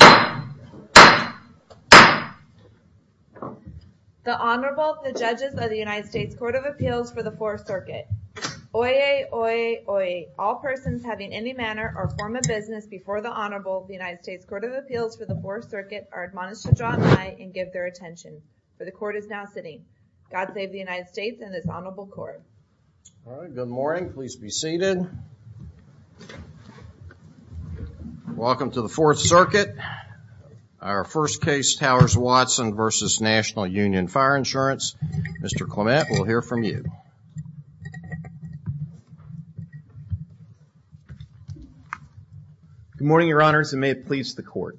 The Honorable, the Judges of the United States Court of Appeals for the Fourth Circuit. Oyez, oyez, oyez. All persons having any manner or form of business before the Honorable of the United States Court of Appeals for the Fourth Circuit are admonished to draw an eye and give their attention. For the Court is now sitting. God save the United States and this Honorable Court. All right, good morning. Please be seated. Welcome to the Fourth Circuit. Our first case, Towers Watson v. National Union Fire Insurance. Mr. Clement, we'll hear from you. Good morning, Your Honors, and may it please the Court.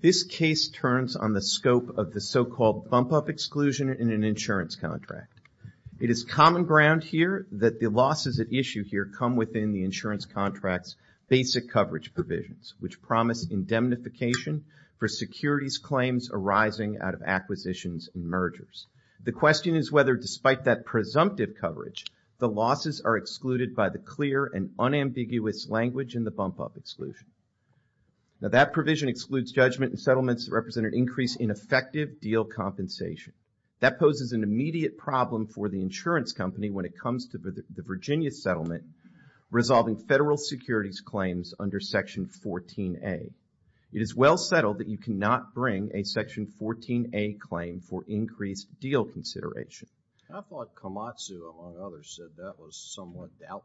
This case turns on the scope of the so-called bump-up exclusion in an insurance contract. It is common ground here that the losses at issue here come within the insurance contract's basic coverage provisions, which promise indemnification for securities claims arising out of acquisitions and mergers. The question is whether, despite that presumptive coverage, the losses are excluded by the clear and unambiguous language in the bump-up exclusion. Now that provision excludes judgment and settlements that represent an increase in effective deal compensation. That poses an immediate problem for the insurance company when it comes to the Virginia settlement resolving federal securities claims under Section 14A. It is well settled that you cannot bring a Section 14A claim for increased deal consideration. I thought Komatsu, among others, said that was somewhat doubtful.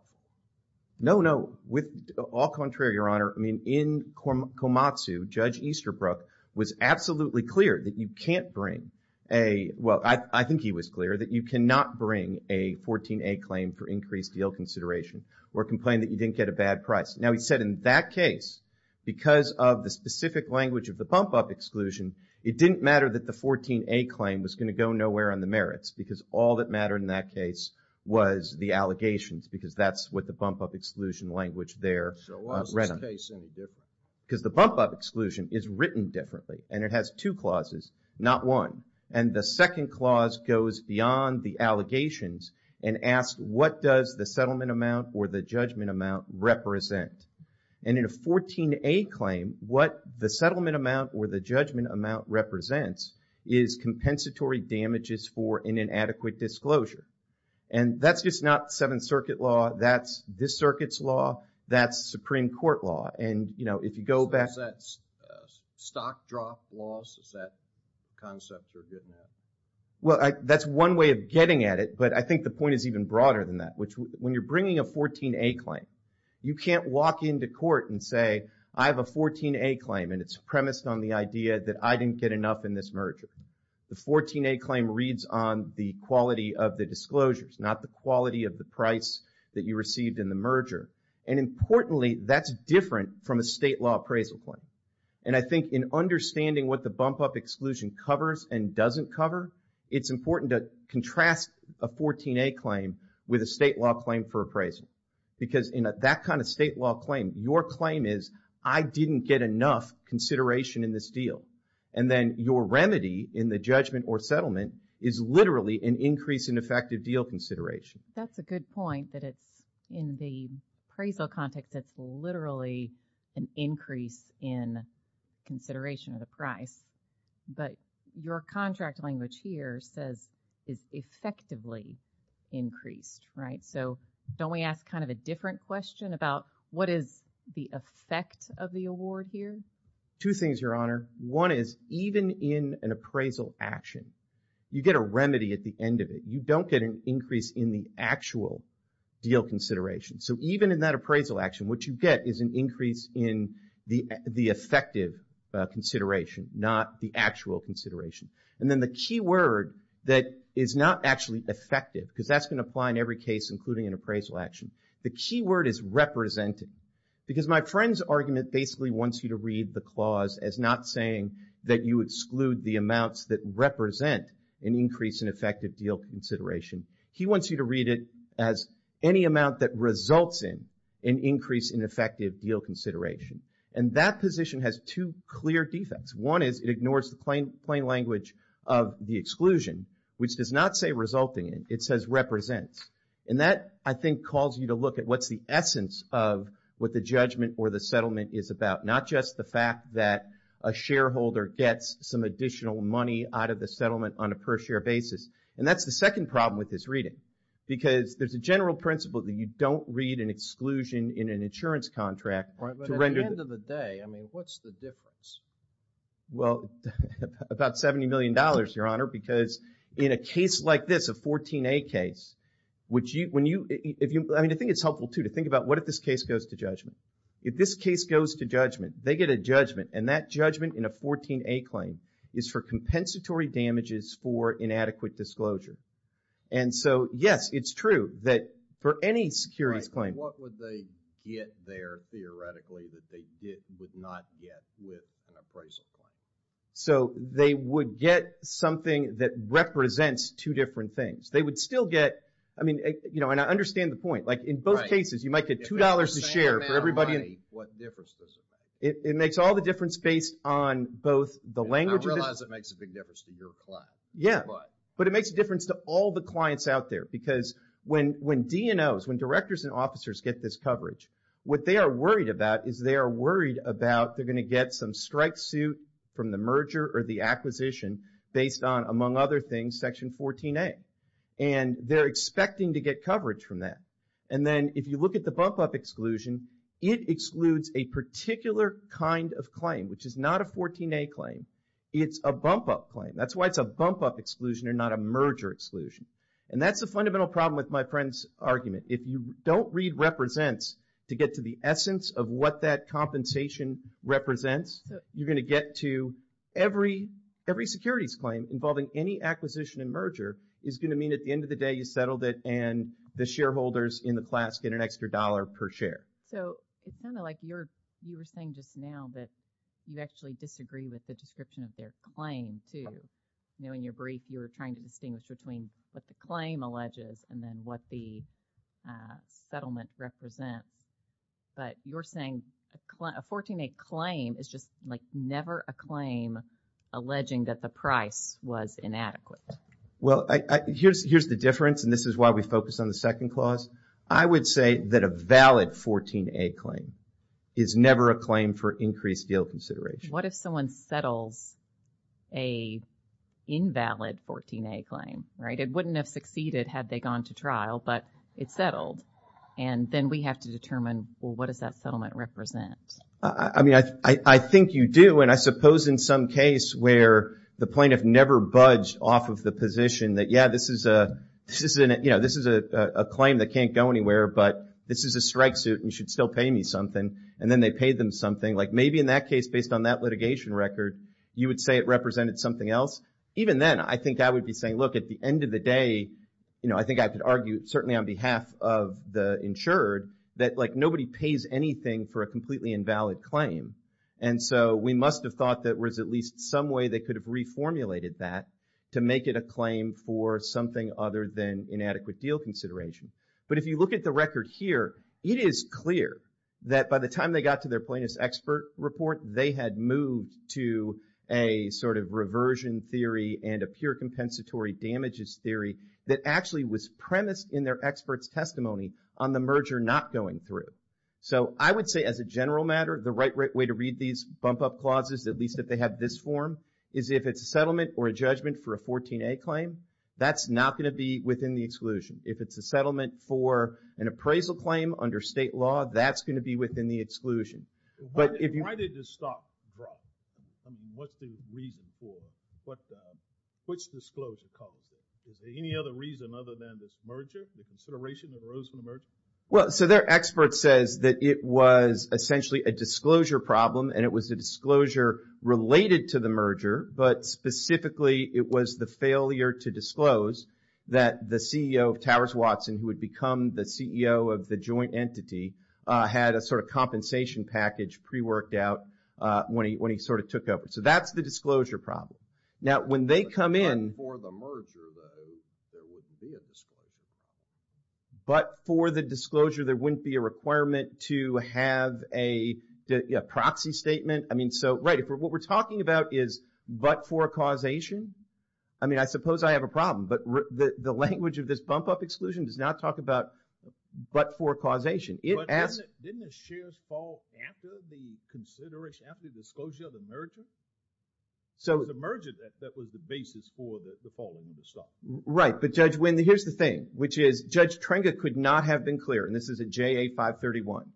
No, no. With all contrary, Your Honor, I mean, in Komatsu, Judge Easterbrook was absolutely clear that you can't bring a – well, I think he was clear that you cannot bring a 14A claim for increased deal consideration or complain that you didn't get a bad price. Now, he said in that case, because of the specific language of the bump-up exclusion, it didn't matter that the 14A claim was going to go nowhere on the merits because all that mattered in that case was the allegations because that's what the bump-up exclusion language there read on it. Because the bump-up exclusion is written differently and it has two clauses, not one. And the second clause goes beyond the allegations and asks what does the settlement amount or the judgment amount represent. And in a 14A claim, what the settlement amount or the judgment amount represents is compensatory damages for an inadequate disclosure. And that's just not Seventh Circuit law. That's this circuit's law. That's Supreme Court law. And, you know, if you go back – Is that stock drop law? Is that concept you're getting at? Well, that's one way of getting at it. But I think the point is even broader than that, which when you're bringing a 14A claim, you can't walk into court and say I have a 14A claim and it's premised on the idea that I didn't get enough in this merger. The 14A claim reads on the quality of the disclosures, not the quality of the price that you received in the merger. And importantly, that's different from a state law appraisal claim. And I think in understanding what the bump-up exclusion covers and doesn't cover, it's important to contrast a 14A claim with a state law claim for appraisal. Because in that kind of state law claim, your claim is I didn't get enough consideration in this deal. And then your remedy in the judgment or settlement is literally an increase in effective deal consideration. That's a good point that it's in the appraisal context that's literally an increase in consideration of the price. But your contract language here says it's effectively increased, right? So don't we ask kind of a different question about what is the effect of the award here? Two things, Your Honor. One is even in an appraisal action, you get a remedy at the end of it. You don't get an increase in the actual deal consideration. So even in that appraisal action, what you get is an increase in the effective consideration, not the actual consideration. And then the key word that is not actually effective, because that's going to apply in every case, including an appraisal action. The key word is represented. Because my friend's argument basically wants you to read the clause as not saying that you exclude the amounts that represent an increase in effective deal consideration. He wants you to read it as any amount that results in an increase in effective deal consideration. And that position has two clear defects. One is it ignores the plain language of the exclusion, which does not say resulting in. It says represents. And that, I think, calls you to look at what's the essence of what the judgment or the settlement is about. Not just the fact that a shareholder gets some additional money out of the settlement on a per share basis. And that's the second problem with this reading. Because there's a general principle that you don't read an exclusion in an insurance contract. But at the end of the day, I mean, what's the difference? Well, about $70 million, Your Honor, because in a case like this, a 14A case, I mean, I think it's helpful, too, to think about what if this case goes to judgment. If this case goes to judgment, they get a judgment, and that judgment in a 14A claim is for compensatory damages for inadequate disclosure. And so, yes, it's true that for any securities claim. What would they get there, theoretically, that they would not get with an appraisal claim? So, they would get something that represents two different things. They would still get, I mean, you know, and I understand the point. Like, in both cases, you might get $2 a share for everybody. What difference does it make? It makes all the difference based on both the language. I realize it makes a big difference to your client. Yeah, but it makes a difference to all the clients out there. Because when DNOs, when directors and officers get this coverage, what they are worried about is they are worried about they're going to get some strike suit from the merger or the acquisition based on, among other things, Section 14A. And they're expecting to get coverage from that. And then, if you look at the bump-up exclusion, it excludes a particular kind of claim, which is not a 14A claim. It's a bump-up claim. That's why it's a bump-up exclusion and not a merger exclusion. And that's the fundamental problem with my friend's argument. If you don't read represents to get to the essence of what that compensation represents, you're going to get to every securities claim involving any acquisition and merger is going to mean at the end of the day you settled it and the shareholders in the class get an extra dollar per share. So, it's kind of like you were saying just now that you actually disagree with the description of their claim, too. In your brief, you were trying to distinguish between what the claim alleges and then what the settlement represents. But you're saying a 14A claim is just like never a claim alleging that the price was inadequate. Well, here's the difference, and this is why we focus on the second clause. I would say that a valid 14A claim is never a claim for increased deal consideration. What if someone settles an invalid 14A claim, right? It wouldn't have succeeded had they gone to trial, but it's settled. And then we have to determine, well, what does that settlement represent? I mean, I think you do, and I suppose in some case where the plaintiff never budged off of the position that, yeah, this is a claim that can't go anywhere, but this is a strike suit and you should still pay me something. And then they paid them something. Like maybe in that case, based on that litigation record, you would say it represented something else. Even then, I think I would be saying, look, at the end of the day, I think I could argue certainly on behalf of the insured that nobody pays anything for a completely invalid claim. And so we must have thought that there was at least some way they could have reformulated that to make it a claim for something other than inadequate deal consideration. But if you look at the record here, it is clear that by the time they got to their plaintiff's expert report, they had moved to a sort of reversion theory and a pure compensatory damages theory that actually was premised in their expert's testimony on the merger not going through. So I would say as a general matter, the right way to read these bump-up clauses, at least if they have this form, is if it's a settlement or a judgment for a 14A claim, that's not going to be within the exclusion. If it's a settlement for an appraisal claim under state law, that's going to be within the exclusion. But if you... Why did the stock drop? I mean, what's the reason for it? What's the disclosure? Is there any other reason other than this merger, the consideration that arose from the merger? Well, so their expert says that it was essentially a disclosure problem and it was a disclosure related to the merger, but specifically it was the failure to disclose that the CEO of Towers Watson, who had become the CEO of the joint entity, had a sort of compensation package pre-worked out when he sort of took over. So that's the disclosure problem. Now, when they come in... But for the merger, there wouldn't be a disclosure. But for the disclosure, there wouldn't be a requirement to have a proxy statement? I mean, so, right, what we're talking about is, but for a causation? I mean, I suppose I have a problem, but the language of this bump-up exclusion does not talk about but for causation. But didn't the shares fall after the consideration, after the disclosure of the merger? It was the merger that was the basis for the falling of the stock. Right, but Judge, here's the thing, which is Judge Trenga could not have been clearer, and this is at JA 531,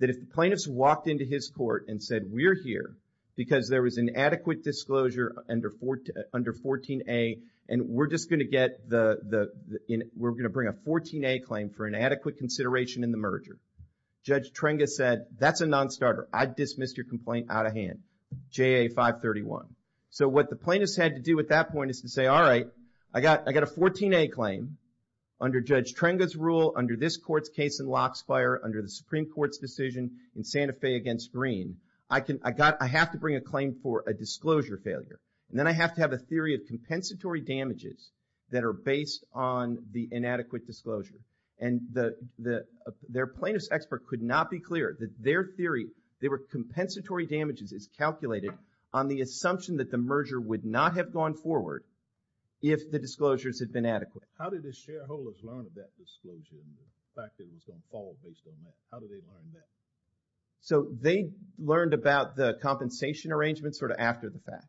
that if plaintiffs walked into his court and said, we're here because there was an adequate disclosure under 14A, and we're just going to get the... we're going to bring a 14A claim for an adequate consideration in the merger, Judge Trenga said, that's a non-starter. I dismiss your complaint out of hand. JA 531. So what the plaintiffs had to do at that point is to say, all right, I got a 14A claim under Judge Trenga's rule, under this court's case in Lockspire, under the Supreme Court's decision in Santa Fe against Green, I have to bring a claim for a disclosure failure. And then I have to have a theory of compensatory damages that are based on the inadequate disclosure. And their plaintiff's expert could not be clearer that their theory, their compensatory damages is calculated on the assumption that the merger would not have gone forward if the disclosures had been adequate. How did the shareholders learn of that disclosure and the fact that it was going to fall based on that? So they learned about the compensation arrangement sort of after the fact.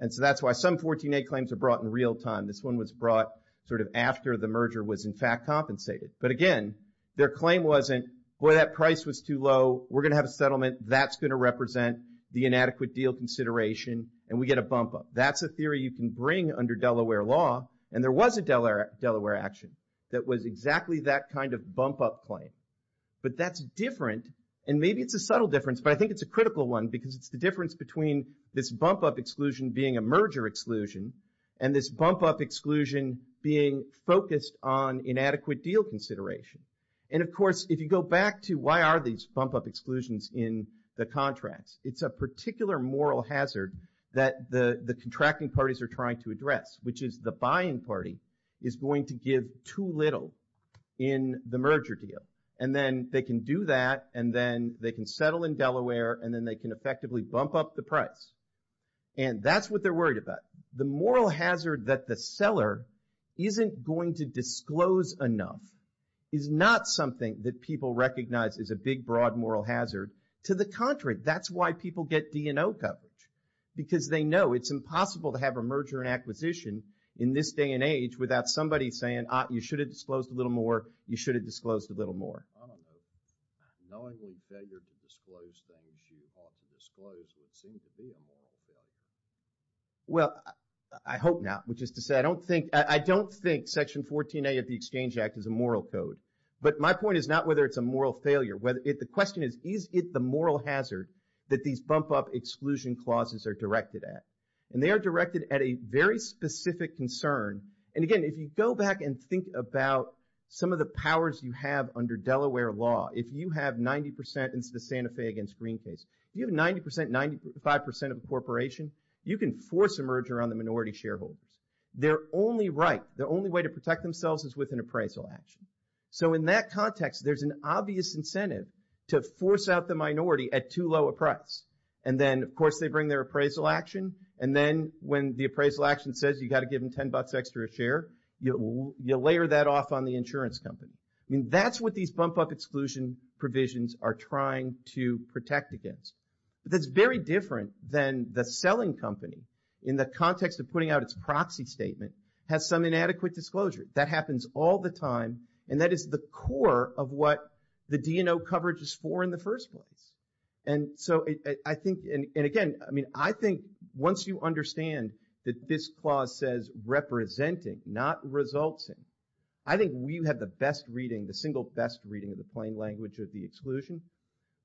And so that's why some 14A claims are brought in real time. This one was brought sort of after the merger was in fact compensated. But again, their claim wasn't, boy, that price was too low, we're going to have a settlement, that's going to represent the inadequate deal consideration, and we get a bump-up. That's a theory you can bring under Delaware law, and there was a Delaware action that was exactly that kind of bump-up claim. But that's different, and maybe it's a subtle difference, but I think it's a critical one because it's the difference between this bump-up exclusion being a merger exclusion and this bump-up exclusion being focused on inadequate deal consideration. And of course, if you go back to why are these bump-up exclusions in the contracts, it's a particular moral hazard that the contracting parties are trying to address, which is the buying party is going to give too little in the merger deal. And then they can do that, and then they can settle in Delaware, and then they can effectively bump up the price. And that's what they're worried about. The moral hazard that the seller isn't going to disclose enough is not something that people recognize as a big, broad moral hazard. To the contrary, that's why people get D&O coverage, because they know it's impossible to have a merger and acquisition in this day and age without somebody saying, you should have disclosed a little more, you should have disclosed a little more. Well, I hope not, which is to say, I don't think Section 14A of the Exchange Act is a moral code. But my point is not whether it's a moral failure. The question is, is it the moral hazard that these bump-up exclusion clauses are directed at? And they are directed at a very specific concern. And again, if you go back and think about some of the powers you have under Delaware law, if you have 90% in the Santa Fe against Green case, you have 90%, 95% of the corporation, you can force a merger on the minority shareholders. They're only right, the only way to protect themselves is with an appraisal action. So in that context, there's an obvious incentive to force out the minority at too low a price. And then, of course, they bring their appraisal action, and then when the appraisal action says you got to give them $10 extra a share, you layer that off on the insurance company. That's what these bump-up exclusion provisions are trying to protect against. That's very different than the selling company, in the context of putting out its proxy statement, has some inadequate disclosure. That happens all the time, and that is the core of what the D&O coverage is for in the first place. And so I think, and again, I mean, I think, once you understand that this clause says representing, not resulting, I think you have the best reading, the single best reading of the plain language of the exclusion.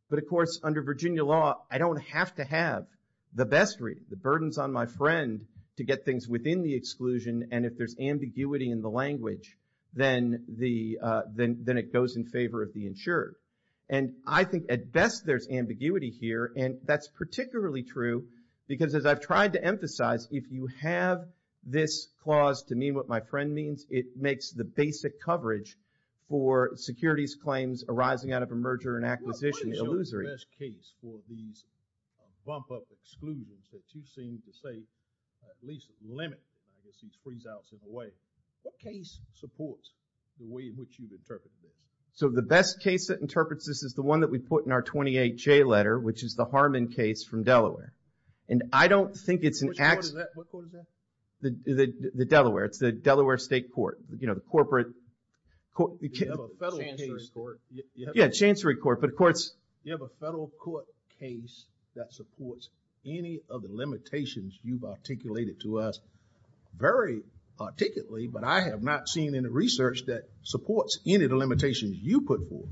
But of course, under Virginia law, I don't have to have the best reading, the burdens on my friend to get things within the exclusion, and if there's ambiguity in the language, then it goes in favor of the insurer. And I think at best there's ambiguity here, and that's particularly true, because as I've tried to emphasize, if you have this clause to mean what my friend means, it makes the basic coverage for securities claims arising out of a merger and acquisition illusory. What is the best case for these bump-up exclusions that you seem to say at least limit these freeze-outs in a way? What case supports the way in which you've interpreted it? So the best case that interprets this is the one that we put in our 28-J letter, which is the Harmon case from Delaware. And I don't think it's an... Which court is that? What court is that? The Delaware. It's the Delaware State Court. You know, the corporate... You have a federal case... Yeah, Chancery Court, but of course... You have a federal court case that supports any of the limitations you've articulated to us very articulately, but I have not seen any research that supports any of the limitations you put forth.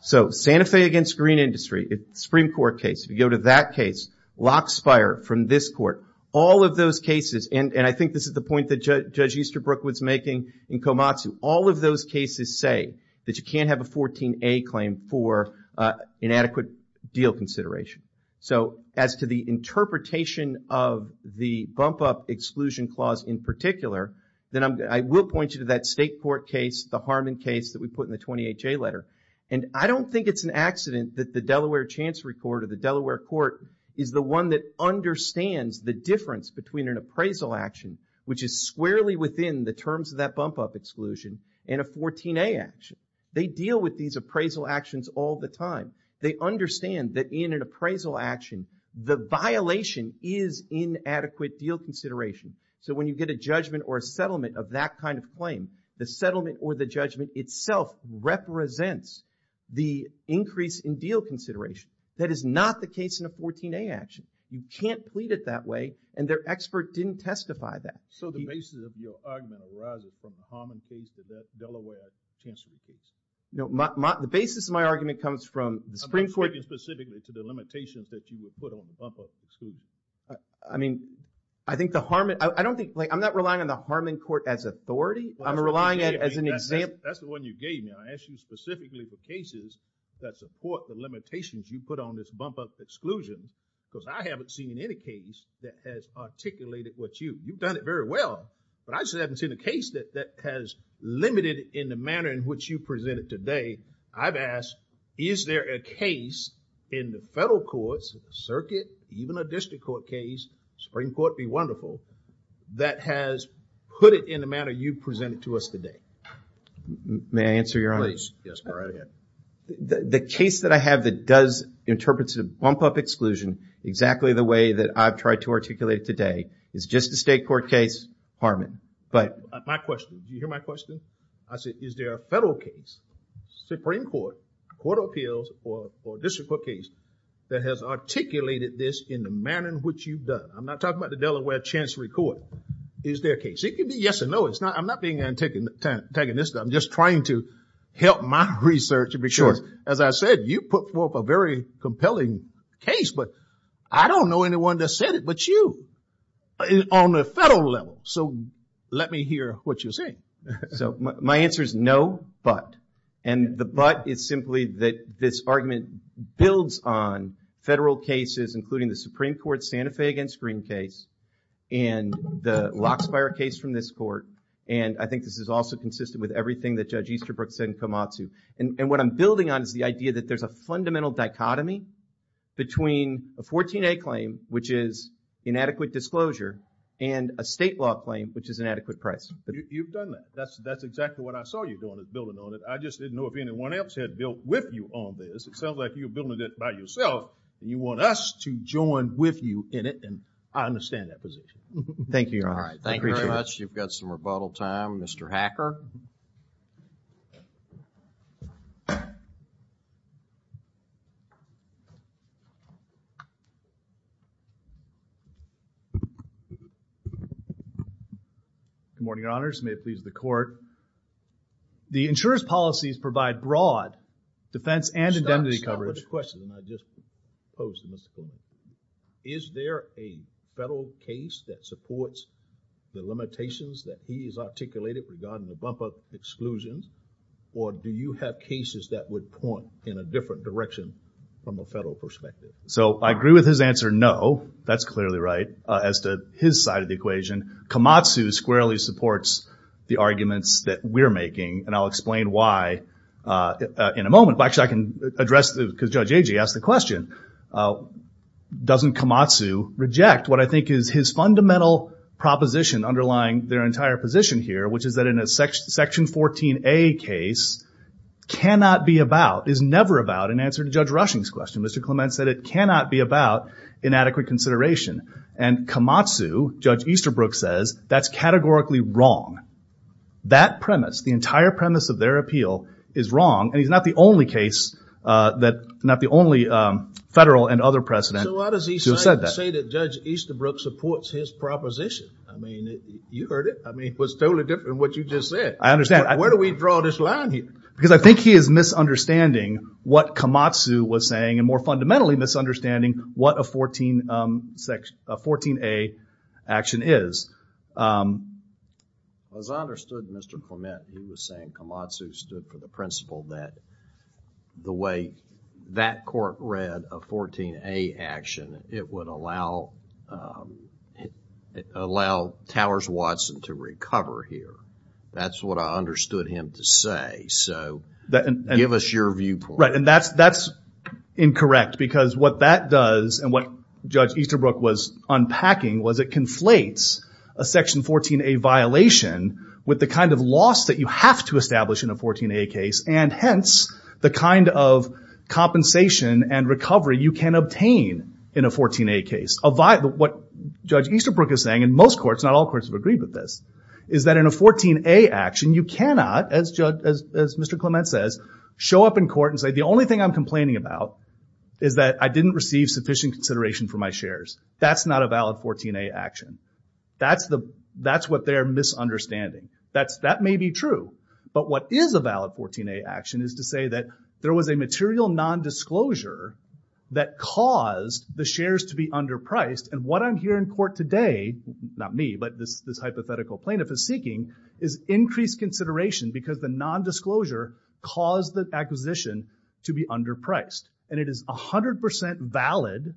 So, Santa Fe against Green Industry, Supreme Court case, if you go to that case, Lockspire from this court, all of those cases, and I think this is the point that Judge Easterbrook was making in Komatsu, all of those cases say that you can't have a 14A claim for inadequate deal consideration. So as to the interpretation of the bump-up exclusion clause in particular, then I will point you to that State Court case, the Harmon case that we put in the 28J letter. And I don't think it's an accident that the Delaware Chancery Court or the Delaware Court is the one that understands the difference between an appraisal action, which is squarely within the terms of that bump-up exclusion, and a 14A action. They deal with these appraisal actions all the time. They understand that in an appraisal action, the violation is inadequate deal consideration. So when you get a judgment or a settlement of that kind of claim, the settlement or the judgment itself represents the increase in deal consideration. That is not the case in a 14A action. You can't plead it that way, and their expert didn't testify that. So the basis of your argument arises from the Harmon case, the Delaware Chancery case. No, the basis of my argument comes from the Supreme Court... I'm speaking specifically to the limitations that you would put on the bump-up exclusion. I mean, I think the Harmon... I'm not relying on the Harmon court as authority. I'm relying on it as an example. That's the one you gave me. I asked you specifically for cases that support the limitations you put on this bump-up exclusion because I haven't seen any case that has articulated what you... You've done it very well, but I just haven't seen a case that has limited in the manner in which you presented today. I've asked, is there a case in the federal courts, circuit, even a district court case, Supreme Court, be wonderful, that has put it in the manner you've presented to us today? May I answer, Your Honor? Yes, go right ahead. The case that I have that does interpret the bump-up exclusion exactly the way that I've tried to articulate it today is just a state court case, Harmon. But... My question, do you hear my question? I said, is there a federal case, Supreme Court, court of appeals or district court case that has articulated this in the manner in which you've done? I'm not talking about the Delaware Chancery Court. Is there a case? It could be yes or no. I'm not being antagonistic. I'm just trying to help my research because, as I said, you put forth a very compelling case, but I don't know anyone that said it but you on the federal level. Let me hear what you're saying. So, my answer is no, but. And the but is simply that this argument builds on federal cases including the Supreme Court Santa Fe against Green case and the Lockspire case from this court and I think this is also consistent with everything that Judge Easterbrook said in Komatsu. And what I'm building on is the idea that there's a fundamental dichotomy between a 14A claim which is inadequate disclosure and a state law claim which is an adequate price. You've done that. That's exactly what I saw you doing, is building on it. I just didn't know if anyone else had built with you on this. It sounds like you're building it by yourself and you want us to join with you in it and I understand that position. Thank you, Your Honor. Thank you very much. You've got some rebuttal time, Mr. Hacker. Good morning, Your Honors. May it please the court. The insurer's policies provide broad defense and indemnity coverage. Stop, stop with the questions I just posed to Mr. King. Is there a federal case that supports the limitations that he has articulated regarding the bumper exclusions or do you have cases that would point in a different direction from a federal perspective? So, I agree with his answer, no. That's clearly right. As to his side of the equation, Kamatsu squarely supports the arguments that we're making and I'll explain why in a moment. Actually, I can address, because Judge Agee asked the question, doesn't Kamatsu reject what I think is his fundamental proposition underlying their entire position here, which is that in a Section 14A case, cannot be about, is never about in answer to Judge Rushing's question. Mr. Clement said it cannot be about inadequate consideration and Kamatsu, Judge Easterbrook says, that's categorically wrong. That premise, the entire premise of their appeal is wrong and he's not the only case that, not the only federal and other precedent who said that. So why does he say that Judge Easterbrook supports his proposition? I mean, you heard it. I mean, it was totally different from what you just said. I understand. Where do we draw this line here? Because I think he is misunderstanding what Kamatsu was saying and more fundamentally misunderstanding what a 14A action is. As I understood Mr. Clement, he was saying Kamatsu stood for the principle that the way that court read a 14A action, it would allow allow Towers-Watson to recover here. That's what I understood him to say. So give us your viewpoint. Right, and that's incorrect because what that does and what Judge Easterbrook was unpacking was it conflates a section 14A violation with the kind of loss that you have to establish in a 14A case and hence the kind of compensation and recovery you can obtain in a 14A case. What Judge Easterbrook is saying, and most courts, not all courts have agreed with this, is that in a 14A action you cannot, as Mr. Clement says, show up in court and say the only thing I'm complaining about is that I didn't receive sufficient consideration for my shares. That's not a valid 14A action. That's what they're misunderstanding. That may be true, but what is a valid 14A action is to say that there was a material non-disclosure that caused the shares to be underpriced and what I'm hearing in court today, not me but this hypothetical plaintiff is seeking, is increased consideration because the non-disclosure caused the acquisition to be underpriced and it is 100% valid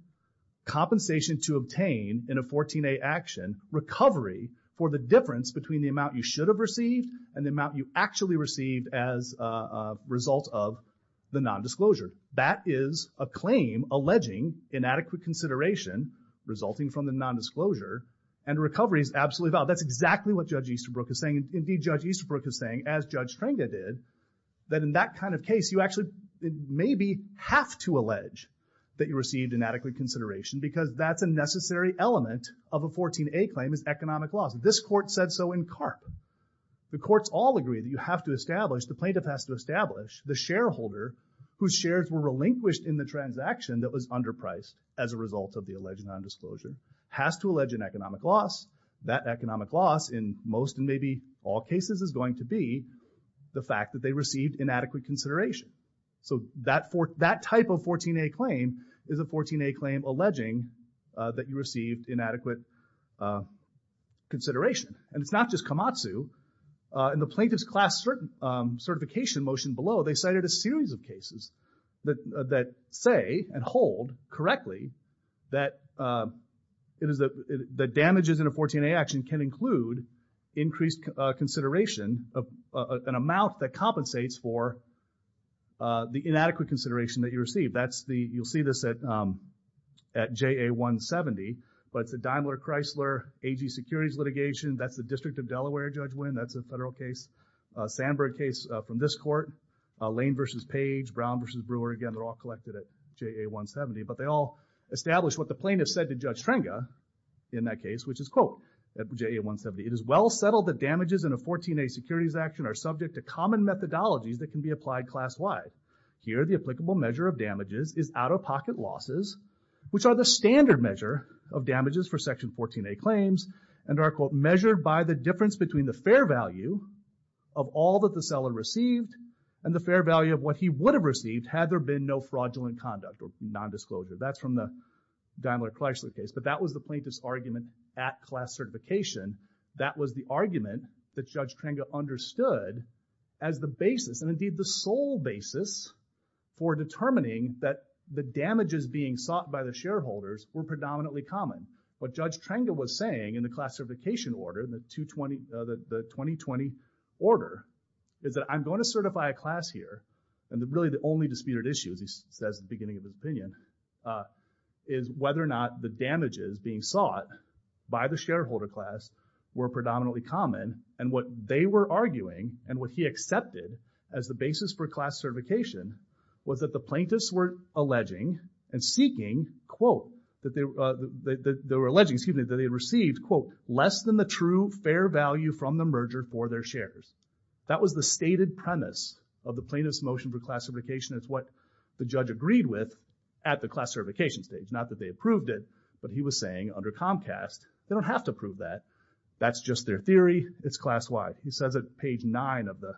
compensation to obtain in a 14A action recovery for the difference between the amount you should have received and the amount you actually received as a result of the non-disclosure. That is a claim alleging inadequate consideration resulting from the non-disclosure and recovery is absolutely valid. That's exactly what Judge Easterbrook is saying. Indeed, Judge Easterbrook is saying as Judge Trenga did, that in that kind of case, you actually maybe have to allege that you received inadequate consideration because that's a necessary element of a 14A claim is economic loss. This court said so in CARP. The courts all agree that you have to establish, the plaintiff has to establish, the shareholder whose shares were relinquished in the transaction that was underpriced as a result of the alleged non-disclosure has to allege an economic loss. That economic loss in most and maybe all cases is going to be the fact that they received inadequate consideration. That type of 14A claim is a 14A claim alleging that you received inadequate consideration. It's not just Komatsu. In the plaintiff's class certification motion below, they cited a series of cases that say and hold correctly that the damages in a 14A action can include increased consideration of an amount that compensates for the inadequate consideration that you received. You'll see this at JA-170, but the Daimler-Chrysler AG securities litigation, that's the District of Delaware Judge Winn, that's a federal case. Sandberg case from this court. Lane v. Page, Brown v. Brewer, again they're all collected at JA-170, but they all establish what the plaintiff said to Judge Trenga in that case which is, quote, at JA-170, It is well settled that damages in a 14A securities action are subject to common methodologies that can be applied class-wide. Here, the applicable measure of damages is out-of-pocket losses, which are the standard measure of damages for Section 14A claims, and are, quote, measured by the difference between the fair value of all that the seller received and the fair value of what he would have received had there been no fraudulent conduct or nondisclosure. That's from the Daimler-Chrysler case, but that was the plaintiff's argument at class certification. That was the argument that Judge Trenga understood as the basis and indeed the sole basis for determining that the damages being sought by the shareholders were predominantly common. What Judge Trenga was saying in the class certification order, the 2020 order, is that I'm going to certify a class here and really the only disputed issue, as he says at the beginning of his opinion, is whether or not the damages being sought by the shareholder class were predominantly common, and what they were arguing and what he accepted as the basis for class certification was that the plaintiffs were alleging and seeking, quote, that they were alleging, excuse me, that they had received, quote, less than the true fair value from the merger for their shares. That was the stated premise of the plaintiff's motion for classification. It's what the judge agreed with at the class certification stage. Not that they approved it, but he was saying under Comcast, they don't have to prove that. That's just their theory. It's class-wide. He says at page 9 of the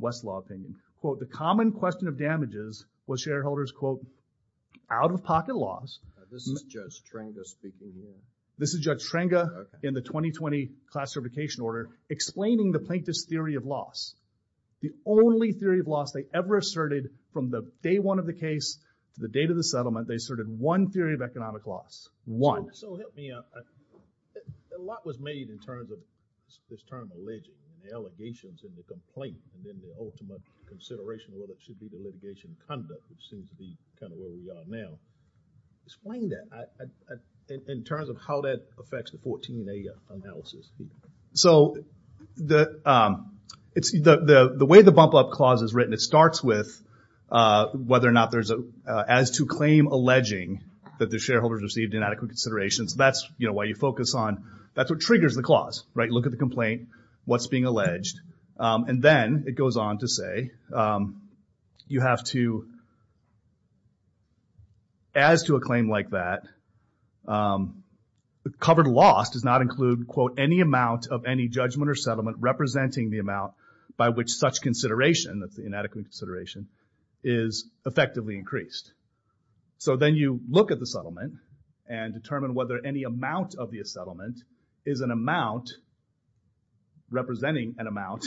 Westlaw opinion, quote, the common question of damages was shareholders, quote, out-of-pocket loss. This is Judge Trenga speaking here. This is Judge Trenga in the 2020 class certification order, explaining the plaintiff's theory of loss. The only theory of loss they ever asserted from the day one of the case to the date of the settlement, they asserted one theory of economic loss. One. So help me out. A lot was made in terms of this term alleging, the allegations and the complaint, and then the ultimate consideration of whether it should be the litigation conduct, which seems to be kind of where we are now. Explain that in terms of how that affects the 14A analysis. The way the bump-up clause is written, it starts with whether or not there's an as-to-claim alleging that the shareholders received inadequate considerations. That's why you focus on, that's what triggers the clause. Look at the complaint, what's being alleged. Then it goes on to say you have to as-to-a-claim like that, covered loss does not include, quote, any amount of any judgment or settlement representing the amount by which such consideration, that's the inadequate consideration, is effectively increased. So then you look at the settlement and determine whether any amount of the settlement is an amount representing an amount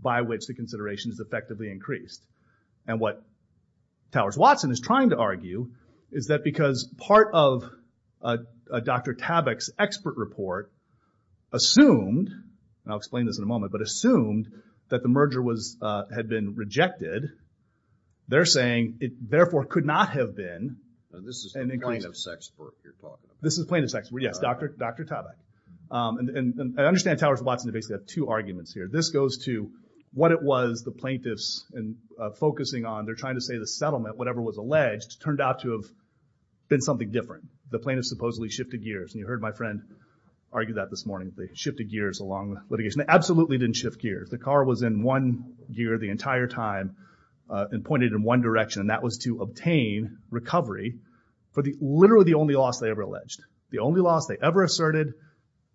by which the consideration is effectively increased. And what Towers-Watson is trying to argue is that because part of Dr. Tabak's expert report assumed, and I'll explain this in a moment, but assumed that the merger had been rejected, they're saying it therefore could not have been This is plaintiff's expert you're talking about. This is plaintiff's expert, yes. Dr. Tabak. I understand Towers-Watson basically has two arguments here. This goes to what it was the plaintiffs focusing on, they're trying to say the settlement, whatever was alleged, turned out to have been something different. The plaintiffs supposedly shifted gears, and you heard my friend argue that this morning. They shifted gears along the litigation. They absolutely didn't shift gears. The car was in one gear the entire time and pointed in one direction, and that was to obtain recovery for literally the only loss they ever alleged. The only loss they ever asserted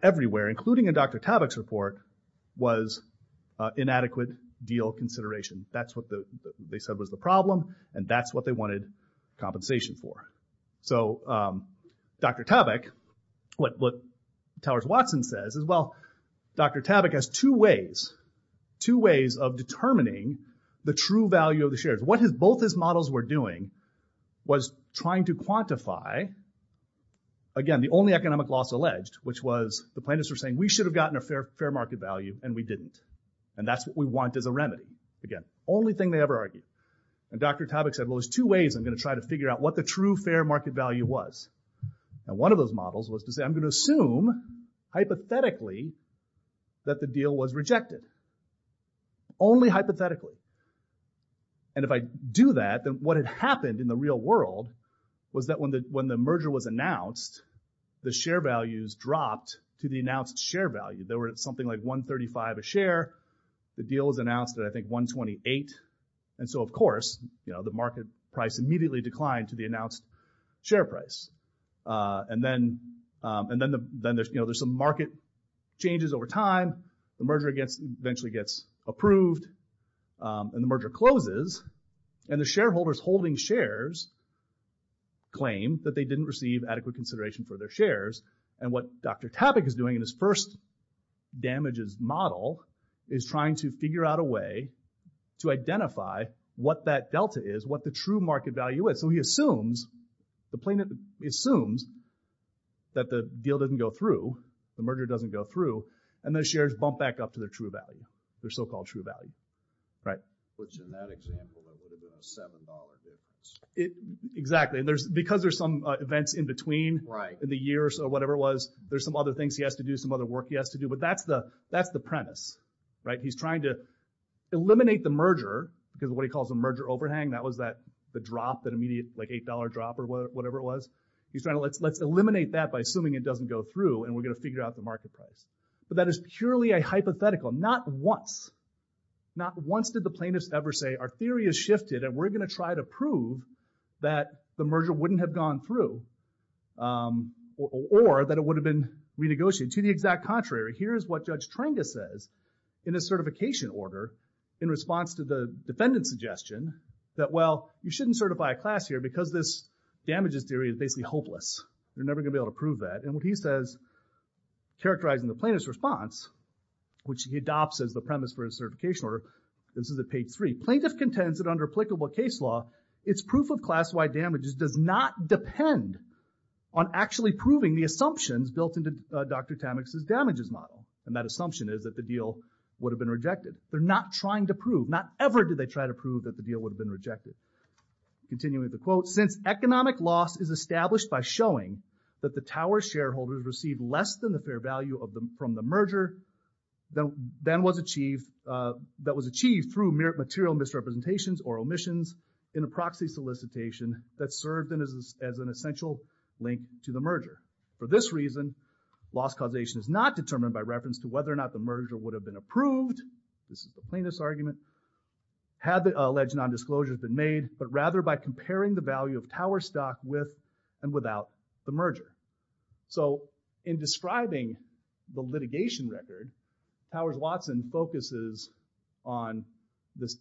everywhere, including in Dr. Tabak's report, was inadequate deal consideration. That's what they said was the problem, and that's what they wanted compensation for. Dr. Tabak, what Towers-Watson says is, well, Dr. Tabak has two ways, two ways of determining the true value of the shares. What both his models were doing was trying to quantify again, the only economic loss alleged, which was the plaintiffs were saying we should have gotten a fair market value and we didn't, and that's what we want as a remedy. Again, only thing they ever argued. And Dr. Tabak said, well, there's two ways I'm going to try to figure out what the true fair market value was. And one of those models was to say, I'm going to assume hypothetically that the deal was rejected. Only hypothetically. And if I do that, then what had happened in the real world was that when the merger was announced, the share values dropped to the announced share value. They were at something like 135 a share. The deal was announced at I think 128. And so of course, you know, the market price immediately declined to the announced share price. And then there's some market changes over time. The merger eventually gets approved. And the merger closes. And the shareholders holding shares claim that they didn't receive adequate consideration for their shares. And what Dr. Tabak is doing in his first damages model is trying to figure out a way to identify what that delta is, what the true market value is. So he assumes the plaintiff assumes that the deal didn't go through, the merger doesn't go through, and the shares bump back up to their true value. Their so-called true value. Right. Which in that example would have been a $7 difference. Exactly. And because there's some events in between in the years or whatever it was, there's some other things he has to do, some other work he has to do. But that's the premise. Right. He's trying to eliminate the merger because of what he calls a merger overhang. That was that the drop, that immediate like $8 drop or whatever it was. He's trying to eliminate that by assuming it doesn't go through and we're going to figure out the market price. But that is purely a hypothetical. Not once. Not once did the plaintiffs ever say, our theory has shifted and we're going to try to prove that the merger wouldn't have gone through or that it would have been renegotiated. To the exact contrary, here's what Judge Tranga says in his certification order in response to the defendant's suggestion that, well, you shouldn't certify a class here because this damages theory is basically hopeless. You're never going to be able to prove that. And what he says characterizing the plaintiff's response, which he adopts as the premise for his certification order, this is at page 3, plaintiff contends that under applicable case law, it's proof of class why damages does not depend on actually proving the assumptions built into Dr. Tamek's damages model. And that assumption is that the deal would have been rejected. They're not trying to prove. Not ever did they try to prove that the deal would have been rejected. Continuing with the quote, since economic loss is established by showing that the Tower shareholders received less than the fair value from the merger that was achieved through material misrepresentations or omissions in a proxy solicitation that served as an essential link to the merger. For this reason, loss causation is not determined by reference to whether or not the merger would have been approved, this is the plaintiff's argument, had the alleged nondisclosure been made, but rather by comparing the value of Tower stock with and without the merger. So, in describing the litigation record, Towers Watson focuses on this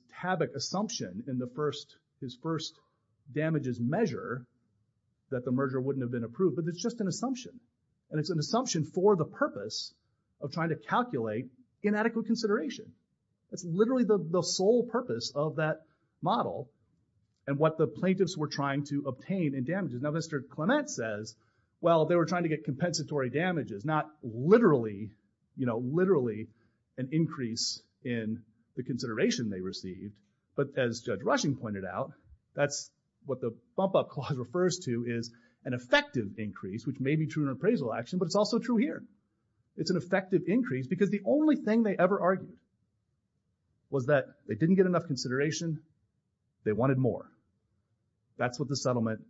his first damages measure that the merger wouldn't have been approved, but it's just an assumption. And it's an assumption for the purpose of trying to calculate inadequate consideration. It's literally the sole purpose of that model and what the plaintiffs were trying to obtain in damages. Now, Mr. Clement says, well, they were trying to get compensatory damages, not literally, literally an increase in the consideration they received, but as Judge Rushing pointed out, that's what the bump up clause refers to is an effective increase, which may be true in appraisal action, but it's also true here. It's an effective increase because the only thing they ever argued was that they didn't get enough consideration, they wanted more. That's what the settlement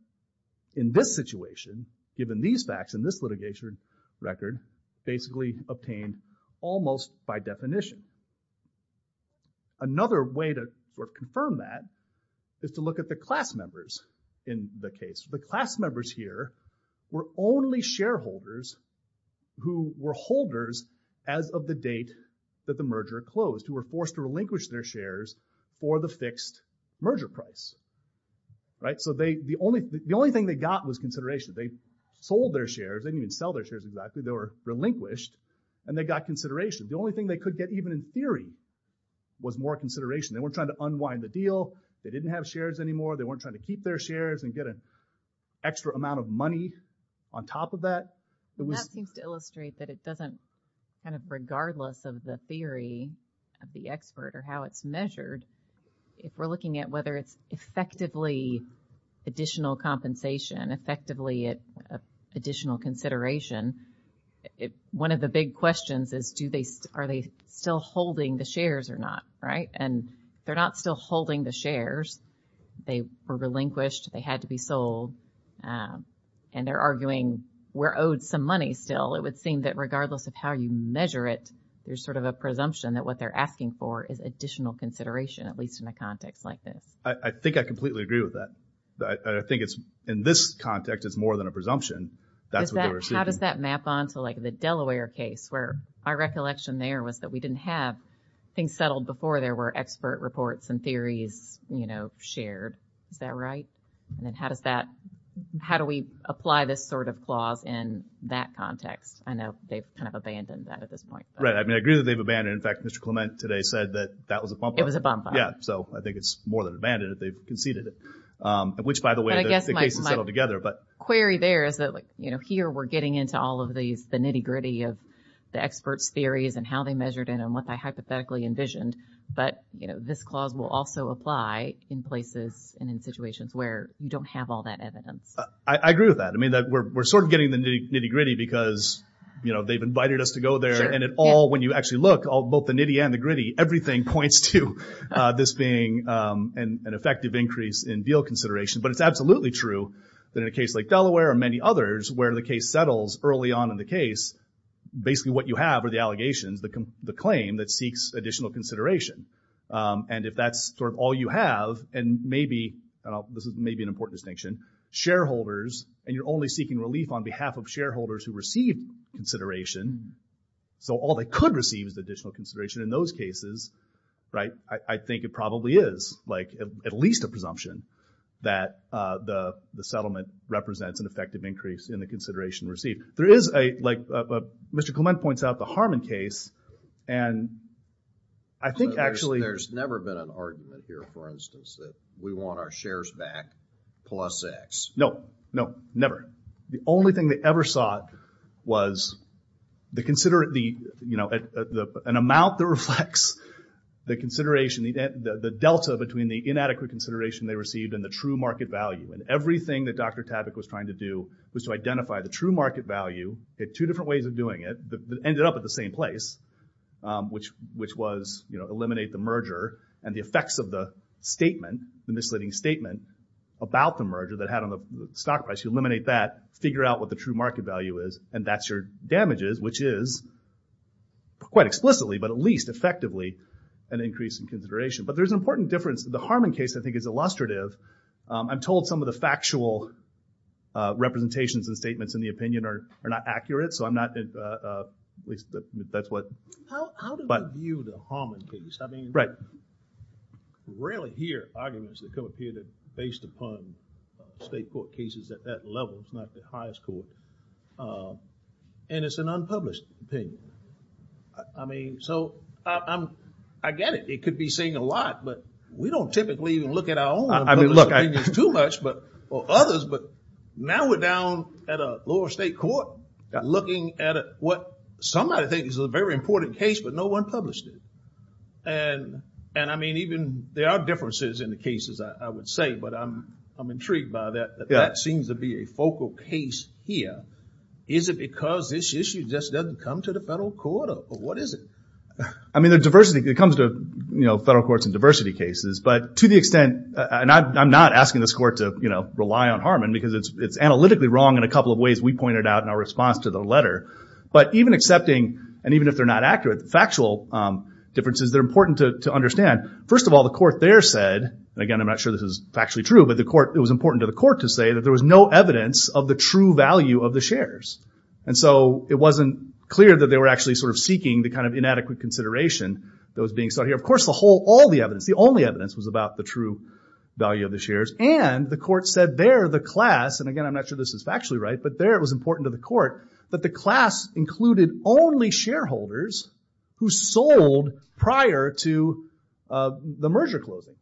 in this situation, given these facts in this litigation record, basically obtained almost by definition. Another way to confirm that is to look at the class members in the case. The class members here were only shareholders who were holders as of the date that the merger closed, who were forced to relinquish their shares for the fixed merger price. So the only thing they got was consideration. They sold their shares, they didn't even sell their shares exactly, they were relinquished, and they got consideration. The only thing they could get, even in theory, was more consideration. They weren't trying to unwind the deal, they didn't have shares anymore, they weren't trying to keep their shares and get an extra amount of money on top of that. That seems to illustrate that it doesn't, kind of regardless of the theory of the expert or how it's measured, if we're looking at whether it's effectively additional compensation, effectively additional consideration, one of the big questions is are they still holding the shares or not? And they're not still holding the shares. They were relinquished, they had to be sold, and they're arguing we're owed some money still. It would seem that regardless of how you measure it, there's sort of a presumption that what they're asking for is additional consideration, at least in a context like this. I think I completely agree with that. In this context, it's more than a presumption. That's what they were seeking. How does that map onto the Delaware case, where our recollection there was that we didn't have things settled before there were expert reports and theories shared. Is that right? And how does that, how do we apply this sort of clause in that context? I know they've kind of abandoned that at this point. I agree that they've abandoned it. In fact, Mr. Clement today said that that was a bump up. It was a bump up. So I think it's more than abandoned, they've conceded it. Which by the way, I guess my query there is that here we're getting into all of the nitty gritty of the experts' theories and how they measured it and what they hypothetically envisioned. But this clause will also apply in places and in situations where you don't have all that evidence. I agree with that. We're sort of getting the nitty gritty because they've invited us to go there and it all, when you actually look, both the nitty and the gritty, everything points to this being an effective increase in deal consideration. But it's absolutely true that in a case like Delaware or many others where the case settles early on in the case, basically what you have are the allegations, the claim that seeks additional consideration. And if that's sort of all you have and maybe, this is maybe an important distinction, shareholders, and you're only seeking relief on behalf of shareholders who receive consideration, so all they could receive is additional consideration in those cases, I think it probably is at least a presumption that the settlement represents an effective increase in the consideration received. There is a, like Mr. Clement points out, the Harmon case, and I think actually There's never been an argument here, for instance, that we want our shares back plus X. No, no, never. The only thing they ever sought was the, you know, an amount that reflects the consideration, the delta between the inadequate consideration they received and the true market value. And everything that Dr. Tabic was trying to do was to identify the true market value at two different ways of doing it, ended up at the same place, which was, you know, eliminate the merger and the effects of the statement, the misleading statement about the merger that had on the stock price, you eliminate that, figure out what the true market value is, and that's your damages, which is quite explicitly, but at least effectively, an increase in consideration. But there's an important difference. The Harmon case, I think, is illustrative. I'm told some of the factual representations and statements in the opinion are not accurate, so I'm not at least, that's what How do I view the Harmon case? I mean, I rarely hear arguments that come up here that are based upon state court cases at that level. It's not the highest court. And it's an unpublished opinion. I mean, so, I get it. It could be saying a lot, but we don't typically even look at our own published opinions too much, or others, but now we're down at a lower state court looking at what somebody thinks is a very important case, but no one published it. And I mean, even, there are differences in the cases, I would say, but I'm intrigued by that. That seems to be a focal case here. Is it because this issue just doesn't come to the federal court, or what is it? I mean, the diversity that comes to, you know, federal courts and diversity cases, but to the extent, and I'm not asking this court to, you know, rely on Harmon, because it's analytically wrong in a couple of ways we pointed out in our response to the letter, but even accepting and even if they're not accurate, the factual differences, they're important to understand. First of all, the court there said, and again, I'm not sure this is factually true, but it was important to the court to say that there was no evidence of the true value of the shares. And so, it wasn't clear that they were actually sort of seeking the kind of inadequate consideration that was being sought here. Of course, all the evidence, the only evidence was about the true value of the shares, and the court said there the class, and again, I'm not sure this is factually right, but there it was important to the court that the class included only shareholders who sold prior to the merger closing.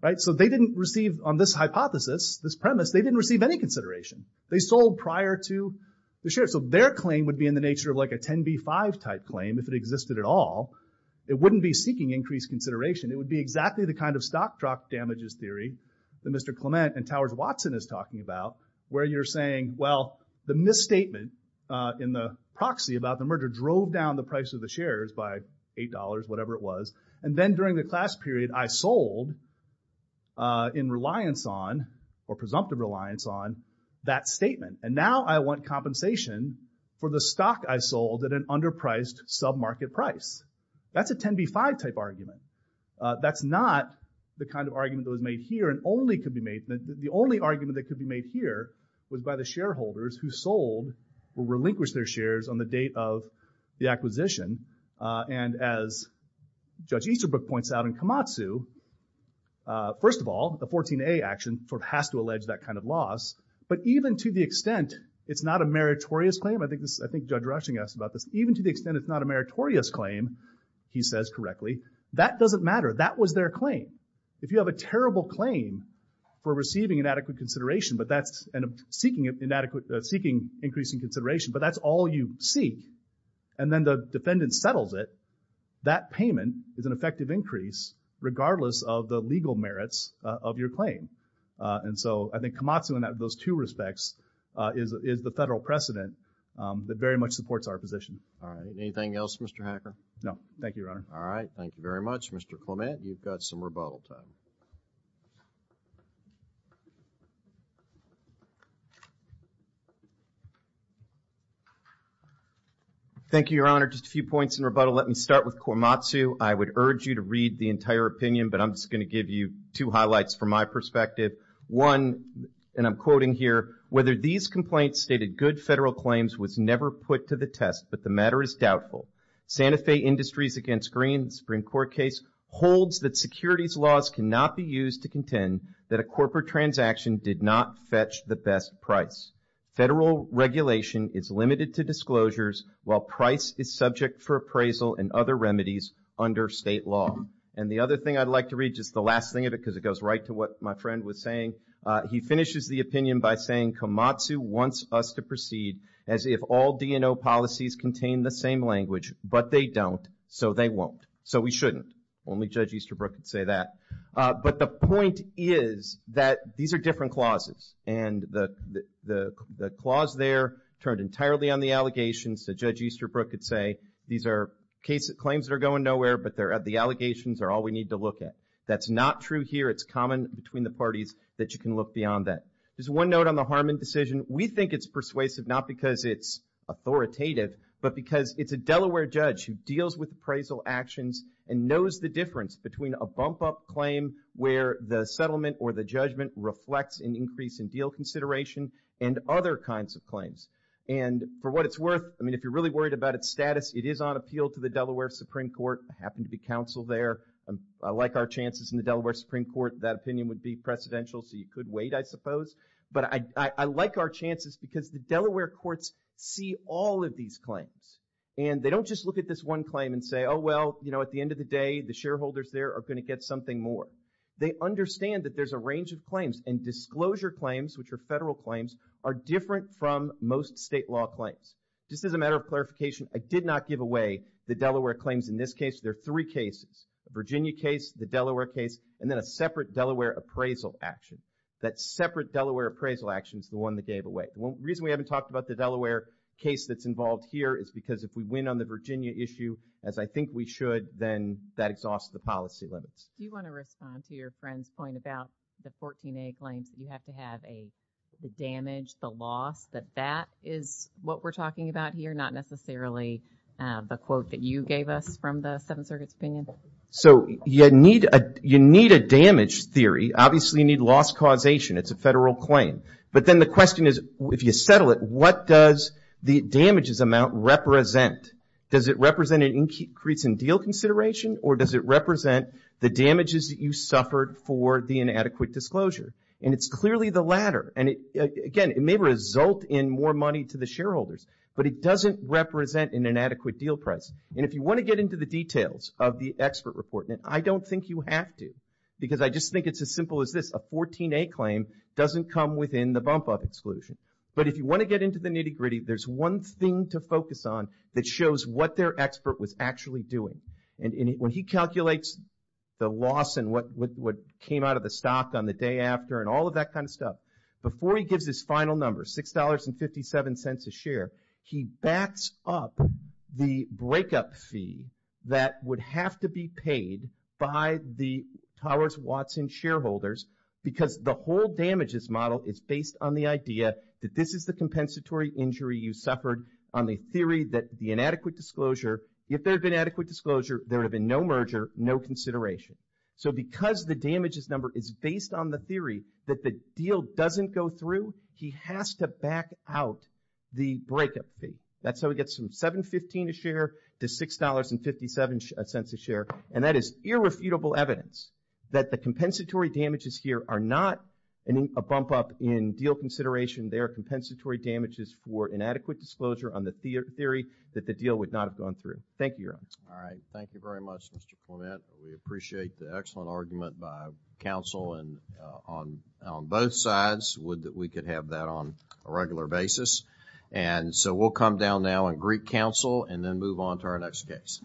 Right, so they didn't receive, on this hypothesis, this premise, they didn't receive any consideration. They sold prior to the shares, so their claim would be in the nature of like a 10B5 type claim, if it existed at all. It wouldn't be seeking increased consideration. It would be exactly the kind of stock drop damages theory that Mr. Clement and Towers Watson is talking about, where you're saying, well, the misstatement in the proxy about the merger drove down the price of the shares by $8, whatever it was, and then during the class period, I sold in reliance on, or presumptive reliance on, that statement, and now I want compensation for the stock I sold at an underpriced sub-market price. That's a 10B5 type argument. That's not the kind of argument that was made here, and only could be made, the only argument that could be made here was by the shareholders who sold or relinquished their shares on the date of the acquisition, and as Judge Easterbrook points out in Komatsu, first of all, the 14A action sort of has to allege that kind of loss, but even to the extent it's not a meritorious claim, I think Judge Rushing asked about this, even to the extent it's not a meritorious claim, he says correctly, that doesn't matter. That was their claim. If you have a terrible claim for receiving inadequate consideration, but that's seeking increasing consideration, but that's all you seek, and then the defendant settles it, that payment is an effective increase, regardless of the legal merits of your claim, and so I think Komatsu in those two respects is the federal precedent that very much supports our position. Anything else, Mr. Hacker? No. Thank you, Your Honor. Mr. Clement, you've got some rebuttal time. Thank you, Your Honor. Just a few points in rebuttal. Let me start with Komatsu. I would urge you to read the entire opinion, but I'm just going to give you two highlights from my perspective. One, and I'm quoting here, whether these complaints stated good federal claims was never put to the test, but the matter is doubtful. Santa Fe Industries against Green Supreme Court case holds that securities laws cannot be used to contend that a corporate transaction did not fetch the best price. Federal regulation is limited to disclosures while price is subject for appraisal and other remedies under state law. And the other thing I'd like to read, just the last thing of it, because it goes right to what my friend was saying. He finishes the opinion by saying, Komatsu wants us to proceed as if all DNO policies contain the same language, but they don't, so they won't. So we shouldn't. Only Judge Easterbrook could say that. But the point is that these are different clauses, and the clause there turned entirely on the allegations. So Judge Easterbrook could say these are claims that are going nowhere, but the allegations are all we need to look at. That's not true here. It's common between the parties that you can look beyond that. There's one note on the Harmon decision. We think it's persuasive, not because it's authoritative, but because it's a Delaware judge who deals with appraisal actions and knows the difference between a bump-up claim where the settlement or the judgment reflects an increase in deal consideration and other kinds of claims. And for what it's worth, I mean, if you're really worried about its status, it is on appeal to the Delaware Supreme Court. I happen to be counsel there. I like our chances in the Delaware Supreme Court. That opinion would be precedential, so you could wait, I suppose. But I like our chances because the Delaware courts see all of these claims. And they don't just look at this one claim and say, oh, well, you know, at the end of the day, the shareholders there are going to get something more. They understand that there's a range of claims. And disclosure claims, which are federal claims, are different from most state law claims. Just as a matter of clarification, I did not give away the Delaware claims in this case. There are three cases. The Virginia case, the Delaware case, and then a separate Delaware appraisal action. That separate Delaware appraisal action is the one that gave away. The reason we haven't talked about the Delaware case that's involved here is because if we win on the Virginia issue as I think we should, then that exhausts the policy limits. Do you want to respond to your friend's point about the 14A claims that you have to have the damage, the loss, that that is what we're talking about here, not necessarily the quote that you gave us from the Seventh Circuit's opinion? You need a damage theory. Obviously, you need loss causation. It's a federal claim. But then the question is, if you settle it, what does the damages amount represent? Does it represent an increase in deal consideration or does it represent the damages that you suffered for the inadequate disclosure? It's clearly the latter. Again, it may result in more money to the shareholders, but it doesn't represent an inadequate deal price. If you want to get into the details of the expert report, I don't think you have to because I just think it's as simple as this. A 14A claim doesn't come within the bump up exclusion. If you want to get into the nitty gritty, there's one thing to focus on that shows what their expert was actually doing. When he calculates the loss and what came out of the stock on the day after and all of that kind of stuff, before he gives his final number, $6.57 a share, he backs up the breakup fee that would have to be paid by the Towers-Watson shareholders because the whole damages model is based on the idea that this is the compensatory injury you suffered on the theory that the inadequate disclosure, if there had been adequate disclosure, there would have been no merger, no consideration. Because the damages number is based on the theory that the deal doesn't go through, he has to back out the breakup fee. That's how he gets from $7.15 a share to $6.57 a share. That is irrefutable evidence that the compensatory damages here are not a bump up in deal consideration. They are compensatory damages for inadequate disclosure on the theory that the deal would not have gone through. Thank you, Your Honor. Thank you very much, Mr. Clement. We appreciate the excellent argument by counsel on both sides. We could have that on a regular basis. We'll come down now and greet counsel and then move on to our next case.